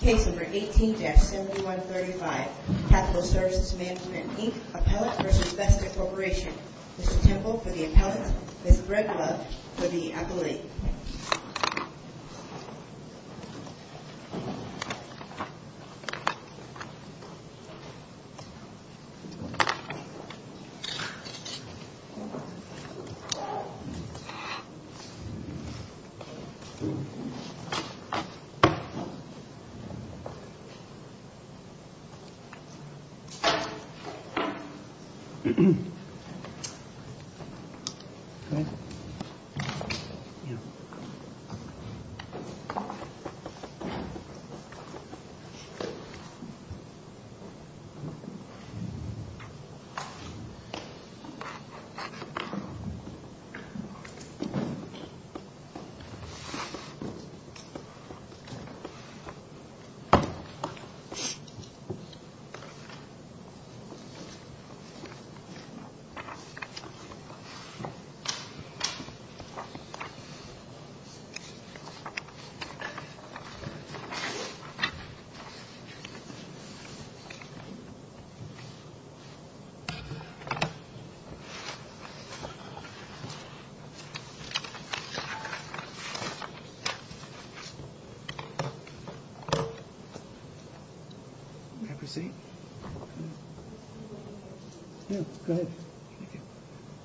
Case number 18-7135 Capital Services Management Inc. Appellate v. Vesta Corporation Mr. Temple for the Appellant Ms. Breadlove for the Appellant Ms. Breadlove for the Appellant Ms. Breadlove for the Appellant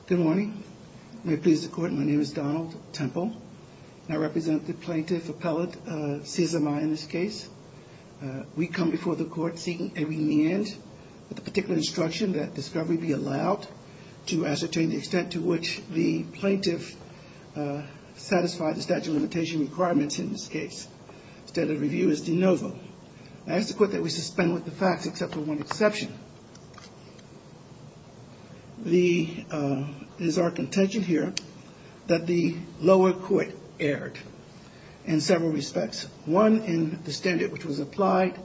Good morning. May it please the Court, my name is Donald Temple. I represent the Plaintiff Appellate, CSMI in this case. We come before the Court seeking a remand with the particular instruction that discovery be allowed to ascertain the extent to which the Plaintiff satisfied the statute of limitation requirements in this case. Standard of review is de novo. I ask the Court that we suspend with the facts except for one exception. It is our contention here that the lower court erred in several respects. One in the standard which was applied,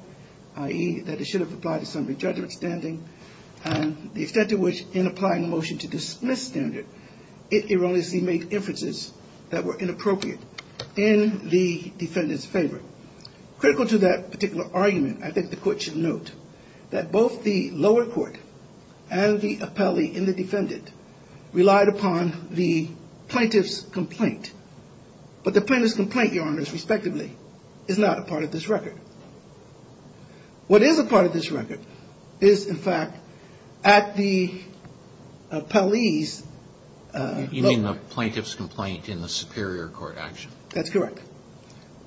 i.e. that it should have applied to some re-judgment standing and the extent to which in applying motion to dismiss standard, it erroneously made inferences that were inappropriate in the Defendant's favor. Critical to that particular argument, I think the Court should note that both the lower court and the appellee and the Defendant relied upon the Plaintiff's complaint, but the Plaintiff's complaint, Your Honors, respectively, is not a part of this record. What is a part of this record is, in fact, at the appellee's lower court. You mean the Plaintiff's complaint in the superior court action? That's correct.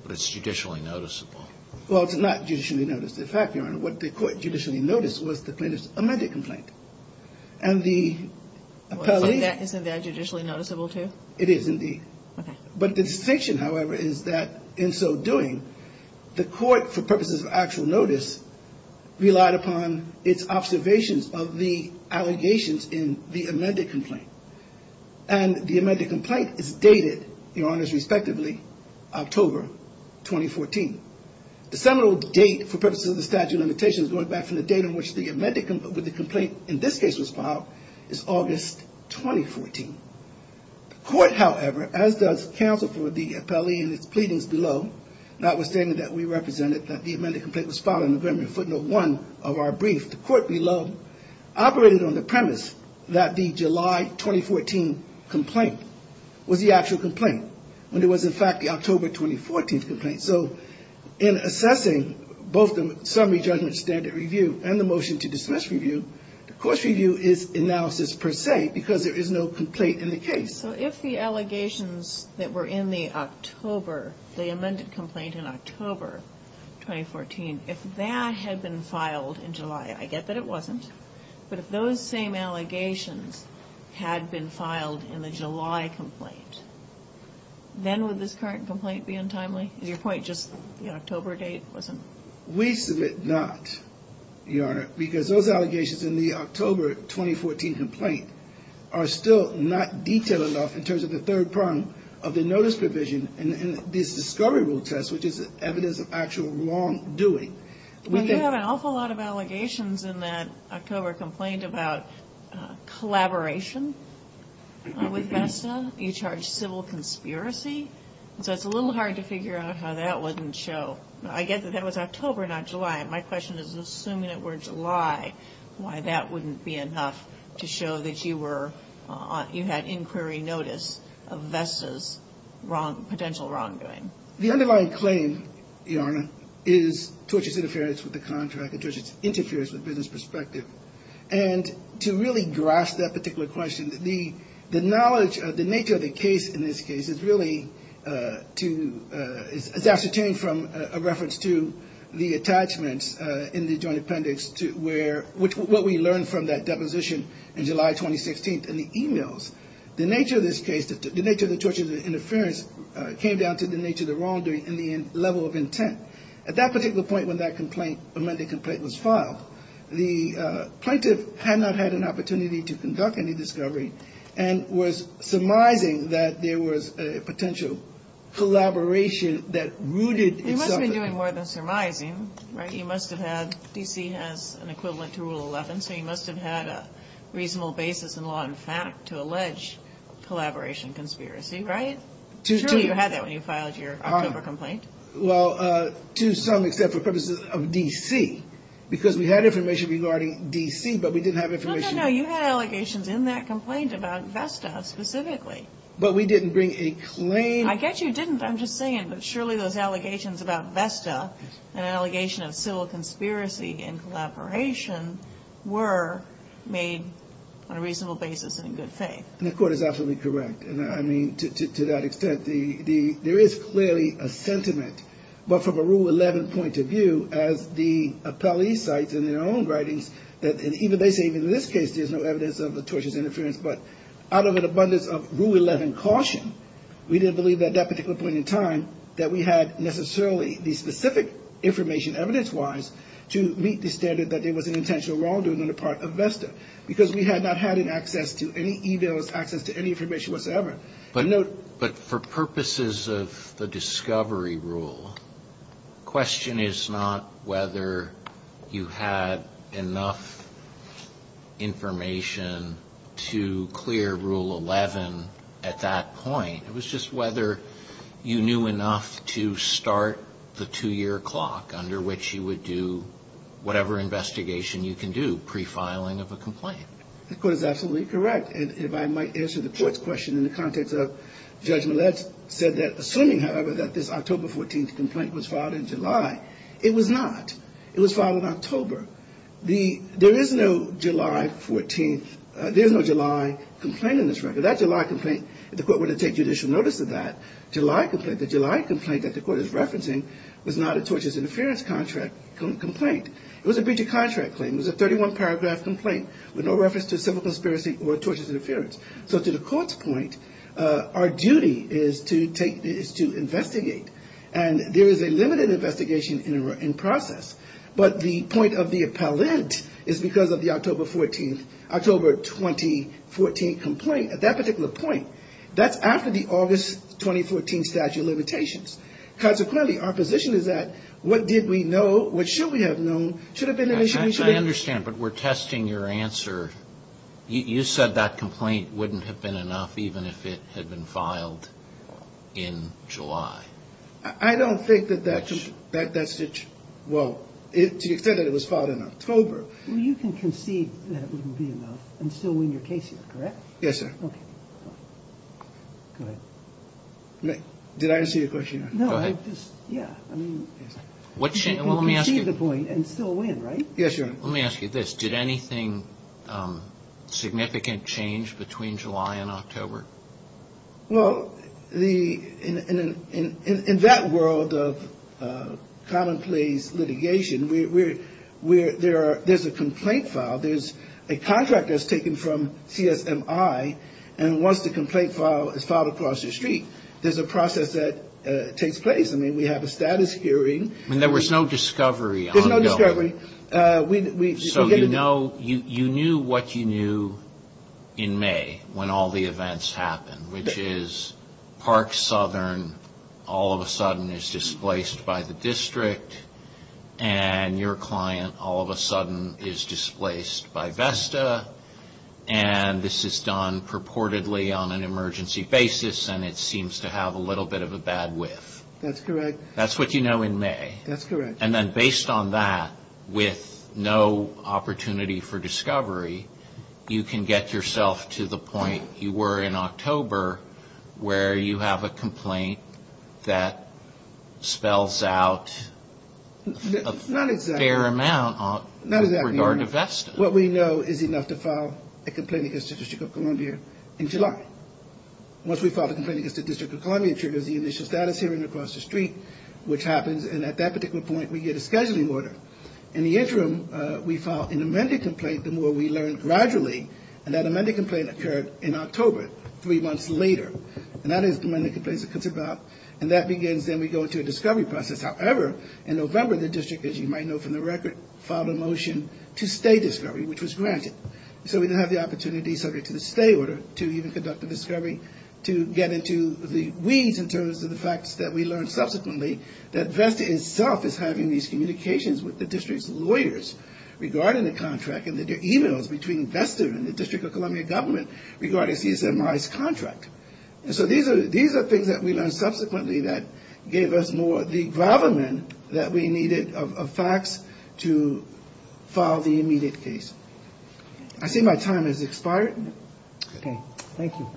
But it's judicially noticeable. Well, it's not judicially noticeable. In fact, Your Honor, what the Court judicially noticed was the Plaintiff's amended complaint and the appellee's. Isn't that judicially noticeable, too? It is, indeed. Okay. But the distinction, however, is that in so doing, the Court, for purposes of actual notice, relied upon its observations of the allegations in the amended complaint. And the amended complaint is dated, Your Honors, respectively, October 2014. The seminal date, for purposes of the statute of limitations, going back from the date on which the amended complaint, in this case, was filed, is August 2014. The Court, however, as does counsel for the appellee and its pleadings below, notwithstanding that we represented that the amended complaint was filed in the Grammian footnote 1 of our brief, the Court below operated on the premise that the July 2014 complaint was the actual complaint, when it was, in fact, the October 2014 complaint. So in assessing both the summary judgment standard review and the motion to dismiss review, the course review is analysis, per se, because there is no complaint in the case. So if the allegations that were in the October, the amended complaint in October 2014, if that had been filed in July, I get that it wasn't, but if those same allegations had been filed in the July complaint, then would this current complaint be untimely? Is your point just the October date wasn't? We submit not, Your Honor, because those allegations in the October 2014 complaint are still not detailed enough in terms of the third prong of the notice provision in this discovery rule test, which is evidence of actual wrongdoing. We have an awful lot of allegations in that October complaint about collaboration with VESTA, you charge civil conspiracy. So it's a little hard to figure out how that wouldn't show. I get that that was October, not July. My question is, assuming it were July, why that wouldn't be enough to show that you had inquiry notice of VESTA's potential wrongdoing? The underlying claim, Your Honor, is tortuous interference with the contract, a tortuous interference with business perspective. And to really grasp that particular question, the knowledge of the nature of the case in this case is really to – is ascertained from a reference to the attachments in the joint appendix to where – what we learned from that deposition in July 2016 in the e-mails. The nature of this case, the nature of the tortuous interference came down to the nature of the wrongdoing and the level of intent. At that particular point when that complaint – when the complaint was filed, the plaintiff had not had an opportunity to conduct any discovery and was surmising that there was a potential collaboration that rooted itself in – He must have been doing more than surmising, right? He must have had – D.C. has an equivalent to Rule 11, so he must have had a reasonable basis in law and fact to allege collaboration conspiracy, right? Surely you had that when you filed your October complaint. Well, to some, except for purposes of D.C., because we had information regarding D.C., but we didn't have information – But we didn't bring a claim – I get you didn't. I'm just saying that surely those allegations about VESTA and an allegation of civil conspiracy and collaboration were made on a reasonable basis and in good faith. And the Court is absolutely correct. I mean, to that extent, there is clearly a sentiment, but from a Rule 11 point of view, as the appellee cites in their own writings, and even they say in this case there's no evidence of the tortious interference, but out of an abundance of Rule 11 caution, we didn't believe at that particular point in time that we had necessarily the specific information evidence-wise to meet the standard that there was an intentional wrongdoing on the part of VESTA because we had not had access to any e-mails, access to any information whatsoever. But for purposes of the discovery rule, the question is not whether you had enough information to clear Rule 11 at that point. It was just whether you knew enough to start the two-year clock under which you would do whatever investigation you can do pre-filing of a complaint. The Court is absolutely correct. And if I might answer the Court's question in the context of judgment, let's say that assuming, however, that this October 14th complaint was filed in July, it was not. It was filed in October. There is no July 14th, there's no July complaint in this record. That July complaint, the Court wouldn't take judicial notice of that July complaint. The July complaint that the Court is referencing was not a tortious interference complaint. It was a breach of contract claim. It was a 31-paragraph complaint with no reference to civil conspiracy or tortious interference. So to the Court's point, our duty is to investigate. And there is a limited investigation in process. But the point of the appellant is because of the October 14th, October 2014 complaint. At that particular point, that's after the August 2014 statute of limitations. Consequently, our position is that what did we know, what should we have known, I understand, but we're testing your answer. You said that complaint wouldn't have been enough even if it had been filed in July. I don't think that that's, well, to the extent that it was filed in October. Well, you can concede that it wouldn't be enough and still win your case here, correct? Yes, sir. Okay. Go ahead. Did I answer your question? No, I just, yeah. You can concede the point and still win, right? Yes, Your Honor. Let me ask you this. Did anything significant change between July and October? Well, in that world of commonplace litigation, there's a complaint filed. There's a contract that's taken from CSMI, and once the complaint is filed across the street, there's a process that takes place. I mean, we have a status hearing. And there was no discovery. There's no discovery. So you know, you knew what you knew in May when all the events happened, which is Park Southern all of a sudden is displaced by the district, and your client all of a sudden is displaced by Vesta, and this is done purportedly on an emergency basis, and it seems to have a little bit of a bad whiff. That's correct. That's what you know in May. That's correct. And then based on that, with no opportunity for discovery, you can get yourself to the point you were in October, where you have a complaint that spells out a fair amount with regard to Vesta. Not exactly, Your Honor. What we know is enough to file a complaint against the District of Columbia in July. Once we file a complaint against the District of Columbia, it triggers the initial status hearing across the street, which happens, and at that particular point, we get a scheduling order. In the interim, we file an amended complaint the more we learn gradually, and that amended complaint occurred in October, three months later. And that is when the complaint comes about, and that begins, then we go into a discovery process. However, in November, the district, as you might know from the record, filed a motion to stay discovery, which was granted. So we didn't have the opportunity, subject to the stay order, to even conduct a discovery to get into the weeds in terms of the facts that we learned subsequently, that Vesta itself is having these communications with the district's lawyers regarding the contract, and that there are e-mails between Vesta and the District of Columbia government regarding CSMRI's contract. And so these are things that we learned subsequently that gave us more of the I see my time has expired. Okay, thank you.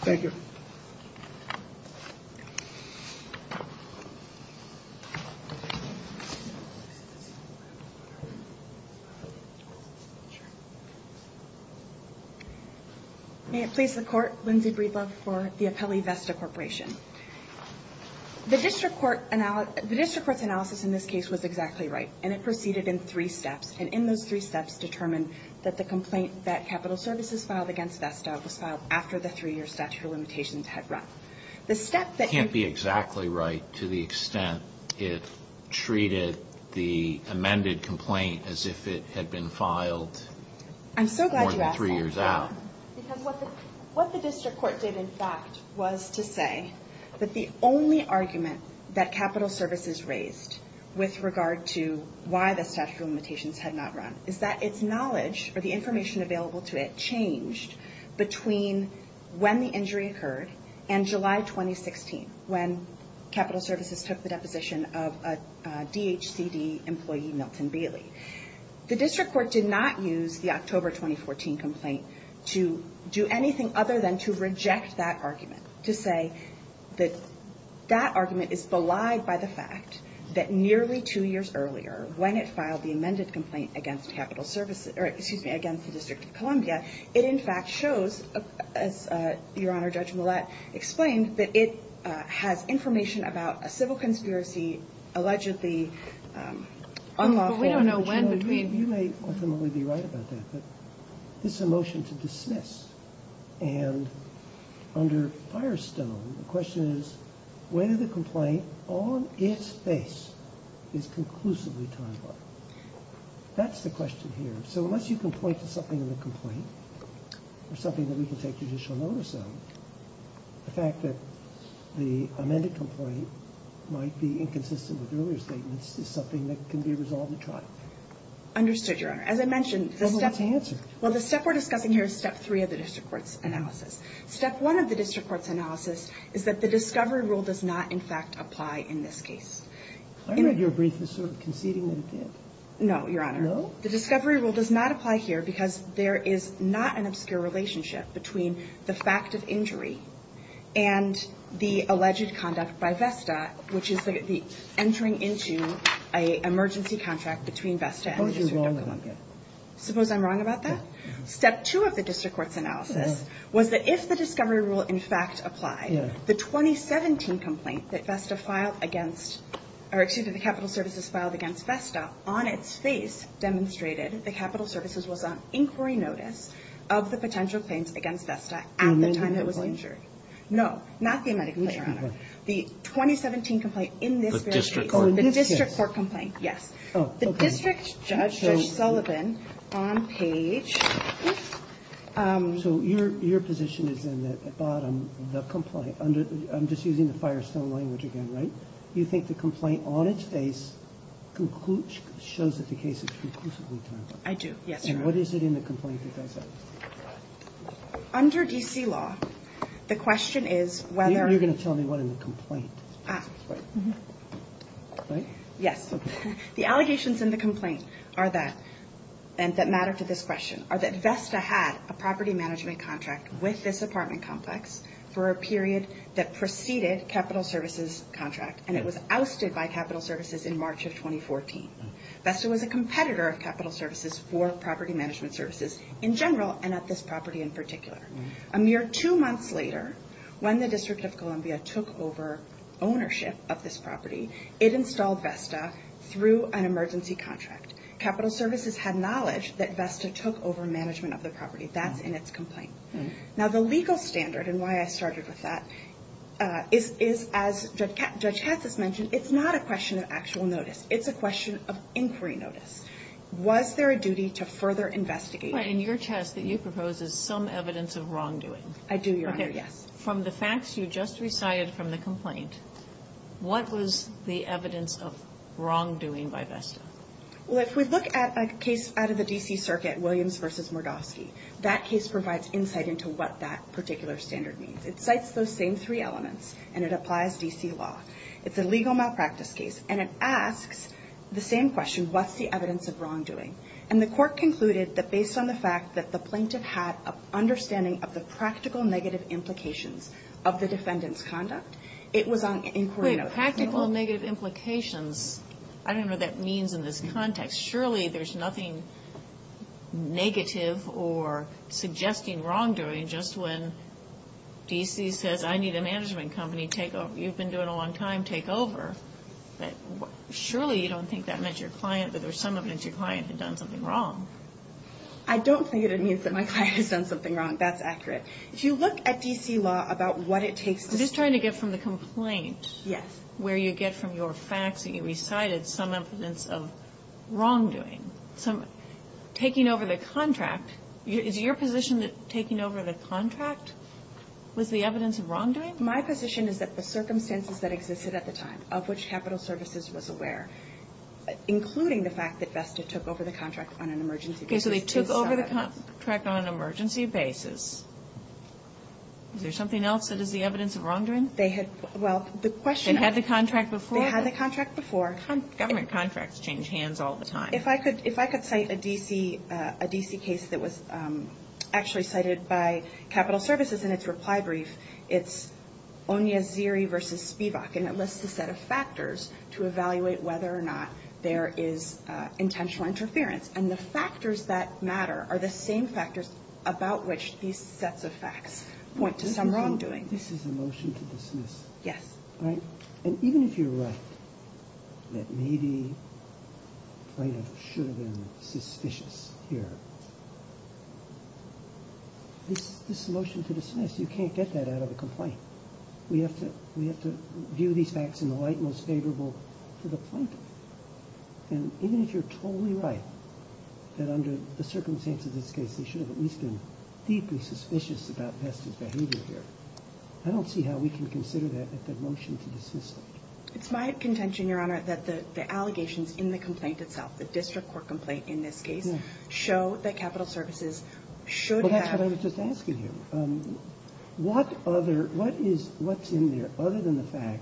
Thank you. May it please the Court, Lindsay Breedlove for the Appellee Vesta Corporation. The district court's analysis in this case was exactly right, and it proceeded in three steps, and in those three steps determined that the complaint that Capital Services filed against Vesta was filed after the three-year statute of limitations had run. It can't be exactly right to the extent it treated the amended complaint as if it had been filed more than three years out. I'm so glad you asked that, John, because what the district court did, in fact, was to say that the only argument that Capital Services raised with regard to why the statute of limitations had not run is that its knowledge, or the information available to it, changed between when the injury occurred and July 2016, when Capital Services took the deposition of a DHCD employee, Milton Bailey. The district court did not use the October 2014 complaint to do anything other than to reject that argument, to say that that argument is belied by the fact that nearly two years earlier, when it filed the amended complaint against Capital Services or, excuse me, against the District of Columbia, it in fact shows, as Your Honor, Judge Millett explained, that it has information about a civil conspiracy allegedly unlawful. But we don't know when between. You may ultimately be right about that, but this is a motion to dismiss, and under Firestone, the question is whether the complaint, on its face, is conclusively timely. That's the question here. So unless you can point to something in the complaint or something that we can take judicial notice of, the fact that the amended complaint might be inconsistent with earlier statements is something that can be resolved at trial. Understood, Your Honor. As I mentioned, the step we're discussing here is step three of the district court's analysis. Step one of the district court's analysis is that the discovery rule does not, in fact, apply in this case. I read your brief as sort of conceding that it did. No, Your Honor. No? The discovery rule does not apply here because there is not an obscure relationship between the fact of injury and the alleged conduct by VESTA, which is the entering into an emergency contract between VESTA and the District of Columbia. Suppose you're wrong about that. Suppose I'm wrong about that? Step two of the district court's analysis was that if the discovery rule, in fact, applied, the 2017 complaint that VESTA filed against or, excuse me, the capital services filed against VESTA on its face demonstrated the capital services was on inquiry notice of the potential claims against VESTA at the time it was injured. The amended complaint? No, not the amended complaint, Your Honor. The 2017 complaint in this case. The district court? The district court complaint, yes. Oh, okay. The district judge, Judge Sullivan, on page. So your position is in the bottom, the complaint. I'm just using the Firestone language again, right? You think the complaint on its face concludes, shows that the case is conclusively done? I do, yes, Your Honor. And what is it in the complaint that does that? Under D.C. law, the question is whether. You're going to tell me what in the complaint. Right? Yes. The allegations in the complaint are that, and that matter to this question, are that VESTA had a property management contract with this apartment complex for a period that preceded capital services contract, and it was ousted by capital services in March of 2014. VESTA was a competitor of capital services for property management services in general and at this property in particular. A mere two months later, when the District of Columbia took over ownership of this property, it installed VESTA through an emergency contract. Capital services had knowledge that VESTA took over management of the property. That's in its complaint. Now, the legal standard and why I started with that is, as Judge Katz has mentioned, it's not a question of actual notice. It's a question of inquiry notice. Was there a duty to further investigate? In your test that you propose is some evidence of wrongdoing. I do, Your Honor, yes. From the facts you just recited from the complaint, what was the evidence of wrongdoing by VESTA? Well, if we look at a case out of the D.C. Circuit, Williams v. Mordofsky, that case provides insight into what that particular standard means. It cites those same three elements, and it applies D.C. law. It's a legal malpractice case, and it asks the same question, what's the evidence of wrongdoing? And the court concluded that based on the fact that the plaintiff had an evidence of wrongdoing, there were practical negative implications of the defendant's conduct. It was on inquiry notice. Practical negative implications. I don't know what that means in this context. Surely there's nothing negative or suggesting wrongdoing just when D.C. says I need a management company to take over. You've been doing it a long time. Take over. Surely you don't think that meant your client, that there's some evidence your client had done something wrong. I don't think it means that my client has done something wrong. That's accurate. If you look at D.C. law about what it takes to do that. I'm just trying to get from the complaint. Yes. Where you get from your facts that you recited some evidence of wrongdoing. Taking over the contract. Is it your position that taking over the contract was the evidence of wrongdoing? My position is that the circumstances that existed at the time, of which Capital Services was aware, including the fact that Vesta took over the contract on an emergency basis. Is there something else that is the evidence of wrongdoing? They had, well, the question. They had the contract before? They had the contract before. Government contracts change hands all the time. If I could cite a D.C. case that was actually cited by Capital Services in its reply brief, it's Onyaziri v. Spivak. And it lists a set of factors to evaluate whether or not there is intentional interference. And the factors that matter are the same factors about which these sets of facts point to some wrongdoing. This is a motion to dismiss. Yes. And even if you're right that maybe plaintiff should have been suspicious here, this motion to dismiss, you can't get that out of a complaint. We have to view these facts in the light most favorable to the plaintiff. And even if you're totally right that under the circumstances of this case, they should have at least been deeply suspicious about Vesta's behavior here, I don't see how we can consider that at the motion to dismiss it. It's my contention, Your Honor, that the allegations in the complaint itself, the district court complaint in this case, show that Capital Services should have. Well, that's what I was just asking you. What's in there other than the fact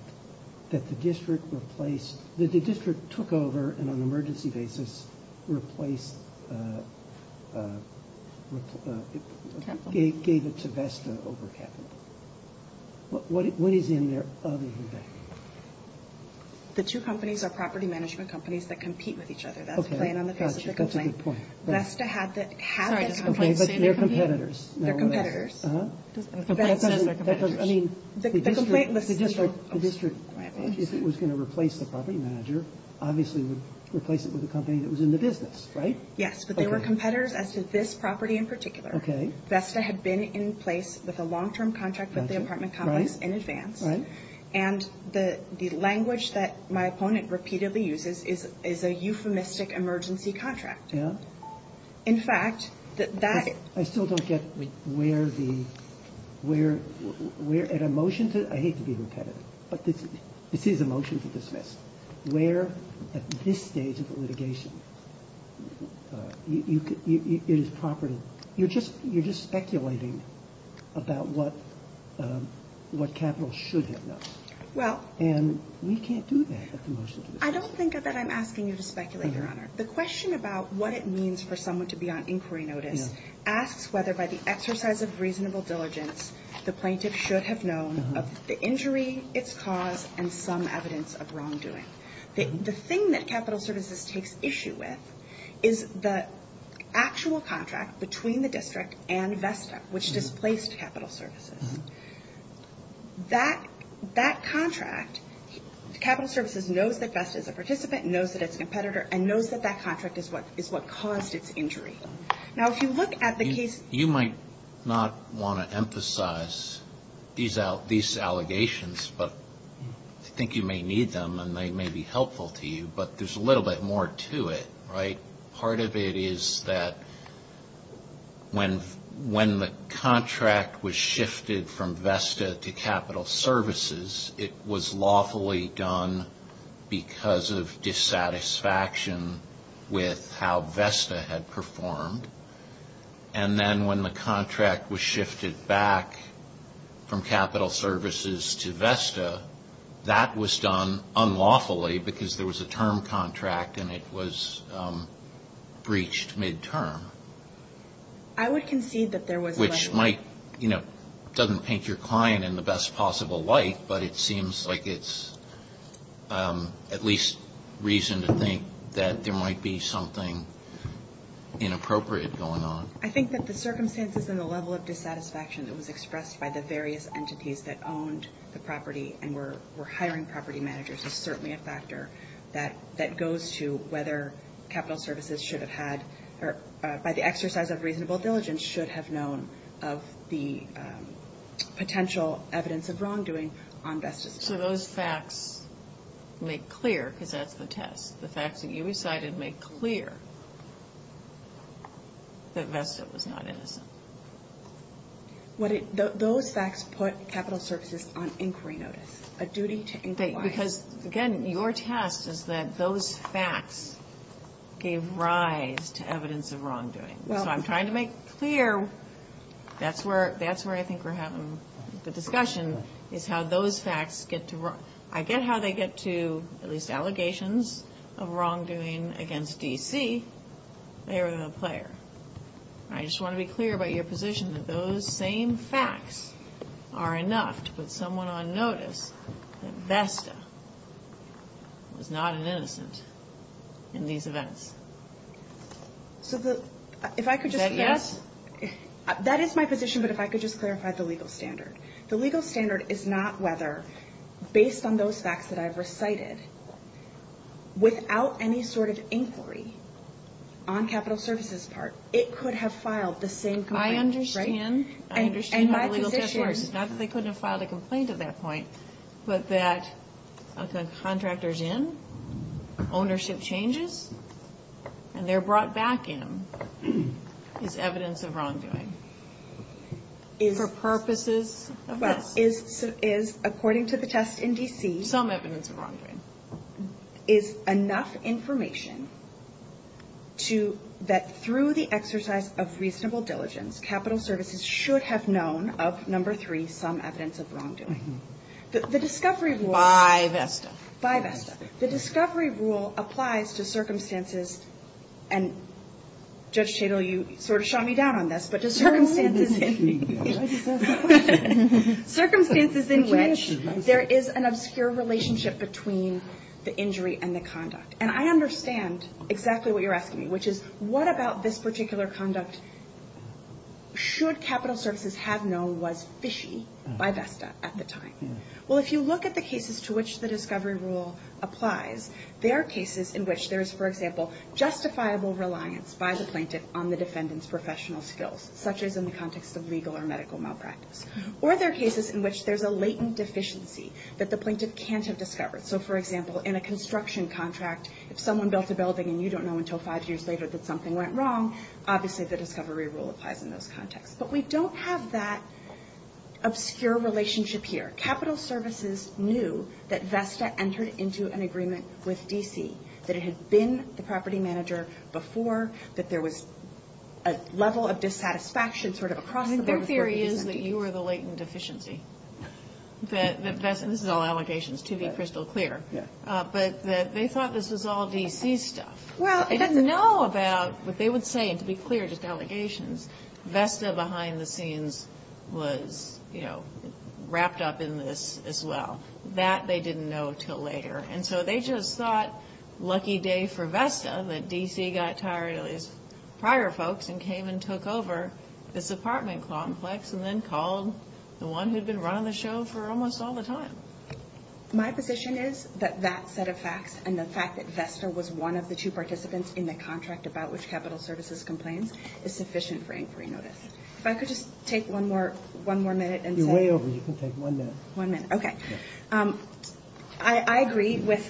that the district took over and on an emergency basis gave it to Vesta over Capital? What is in there other than that? The two companies are property management companies that compete with each other. That's the plan on the basis of the complaint. Vesta had that company, but they're competitors. They're competitors. The district, if it was going to replace the property manager, obviously would replace it with a company that was in the business, right? Yes, but they were competitors as to this property in particular. Vesta had been in place with a long-term contract with the apartment complex in advance. And the language that my opponent repeatedly uses is a euphemistic emergency contract. I still don't get where at a motion to, I hate to be repetitive, but this is a motion to dismiss, where at this stage of the litigation it is property. You're just speculating about what Capital should have done. And we can't do that at the motion to dismiss. I don't think that I'm asking you to speculate, Your Honor. The question about what it means for someone to be on inquiry notice asks whether by the exercise of reasonable diligence the plaintiff should have known of the injury, its cause, and some evidence of wrongdoing. The thing that Capital Services takes issue with is the actual contract between the district and Vesta, which displaced Capital Services. That contract, Capital Services knows that Vesta is a participant, knows that it's a competitor, and knows that that contract is what caused its injury. Now, if you look at the case you might not want to emphasize these allegations, but I think you may need them and they may be helpful to you. But there's a little bit more to it, right? Part of it is that when the contract was shifted from Vesta to Capital Services, it was lawfully done because of dissatisfaction with how Vesta had performed. And then when the contract was shifted back from Capital Services to Vesta, that was done unlawfully because there was a term contract and it was breached midterm. I would concede that there was a... Which might, you know, doesn't paint your client in the best possible light, but it seems like it's at least reason to think that there might be something inappropriate going on. I think that the circumstances and the level of dissatisfaction that was expressed by the various entities that owned the property and were hiring property managers is certainly a factor that goes to whether Capital Services should have had, or by the exercise of reasonable diligence, should have known of the potential evidence of wrongdoing on Vesta's part. So those facts make clear, because that's the test, the facts that you recited make clear that Vesta was not innocent. Those facts put Capital Services on inquiry notice, a duty to inquire. Because, again, your test is that those facts gave rise to evidence of wrongdoing. So I'm trying to make clear, that's where I think we're having the discussion, is how those facts get to... I get how they get to at least allegations of wrongdoing against D.C. They were the player. I just want to be clear about your position that those same facts are enough to put someone on notice that Vesta was not an innocent in these events. Is that yes? That is my position, but if I could just clarify the legal standard. The legal standard is not whether, based on those facts that I've recited, without any sort of inquiry on Capital Services' part, it could have filed the same complaint. I understand. I understand how the legal test works. It's not that they couldn't have filed a complaint at that point, but that a contractor's in, ownership changes, and they're brought back in is evidence of wrongdoing for purposes of this. According to the test in D.C. Some evidence of wrongdoing. is enough information that through the exercise of reasonable diligence, Capital Services should have known of number three, some evidence of wrongdoing. The discovery rule... By Vesta. By Vesta. The discovery rule applies to circumstances, and Judge Chadle, you sort of shot me down on this, but to circumstances in which there is an obscure relationship between the injury and the conduct. And I understand exactly what you're asking me, which is what about this particular conduct should Capital Services have known was fishy by Vesta at the time? Well, if you look at the cases to which the discovery rule applies, there are cases in which there is, for example, justifiable reliance by the plaintiff on the defendant's professional skills, such as in the context of legal or medical malpractice. Or there are cases in which there's a latent deficiency that the plaintiff can't have discovered. So, for example, in a construction contract, if someone built a building and you don't know until five years later that something went wrong, obviously the discovery rule applies in those contexts. But we don't have that obscure relationship here. Capital Services knew that Vesta entered into an agreement with D.C., that it had been the property manager before, that there was a level of dissatisfaction sort of across the board. Your theory is that you were the latent deficiency. This is all allegations, to be crystal clear. But they thought this was all D.C. stuff. They didn't know about what they would say, and to be clear, just allegations. Vesta behind the scenes was, you know, wrapped up in this as well. That they didn't know until later. And so they just thought, lucky day for Vesta, that D.C. got tired of these prior folks and came and took over this apartment complex and then called the one who had been running the show for almost all the time. My position is that that set of facts and the fact that Vesta was one of the two participants in the contract about which Capital Services complains is sufficient for inquiry notice. If I could just take one more minute and say— You're way over. You can take one minute. One minute. Okay. I agree with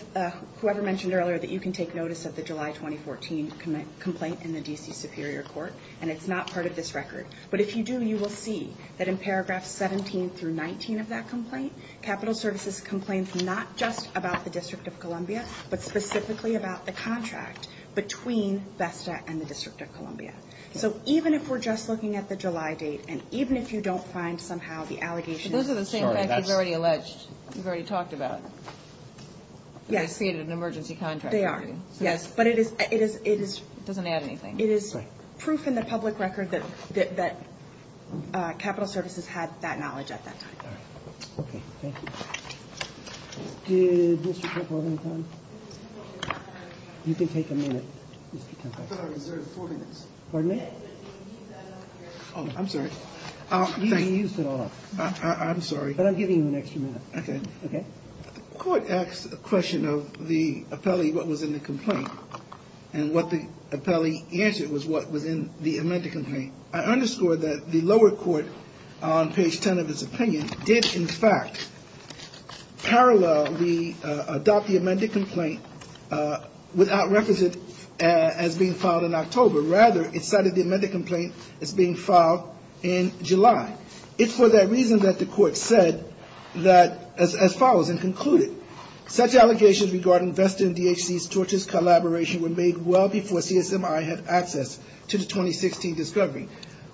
whoever mentioned earlier that you can take notice of the July 2014 complaint in the D.C. Superior Court, and it's not part of this record. But if you do, you will see that in paragraphs 17 through 19 of that complaint, Capital Services complains not just about the District of Columbia, but specifically about the contract between Vesta and the District of Columbia. So even if we're just looking at the July date, and even if you don't find somehow the allegations— Those are the same facts you've already alleged, you've already talked about. Yes. They are. Yes. But it is— It doesn't add anything. It is proof in the public record that Capital Services had that knowledge at that time. Okay. Thank you. Did Mr. Kirkwall have any time? You can take a minute. I thought I reserved four minutes. Pardon me? Oh, I'm sorry. You used it all up. I'm sorry. But I'm giving you an extra minute. Okay. The court asked a question of the appellee what was in the complaint. And what the appellee answered was what was in the amended complaint. I underscore that the lower court, on page 10 of its opinion, did in fact parallelly adopt the amended complaint without reference to it as being filed in October. Rather, it cited the amended complaint as being filed in July. It's for that reason that the court said that as follows and concluded, such allegations regarding Vesta and DHC's torturous collaboration were made well before CSMI had access to the 2016 discovery.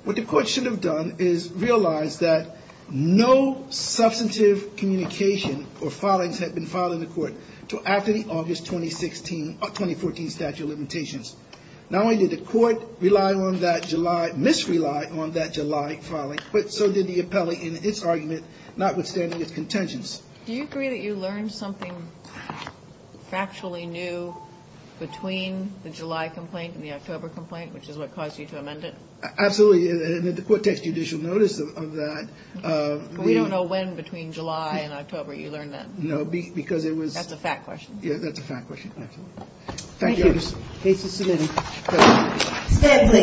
What the court should have done is realized that no substantive communication or filings had been filed in the court until after the August 2014 statute of limitations. Not only did the court rely on that July, misrely on that July filing, but so did the appellee in its argument, notwithstanding its contingence. Do you agree that you learned something factually new between the July complaint and the October complaint, which is what caused you to amend it? Absolutely. And the court takes judicial notice of that. We don't know when between July and October you learned that. No, because it was. That's a fact question. Yeah, that's a fact question. Absolutely. Thank you. Thank you. Case is submitted.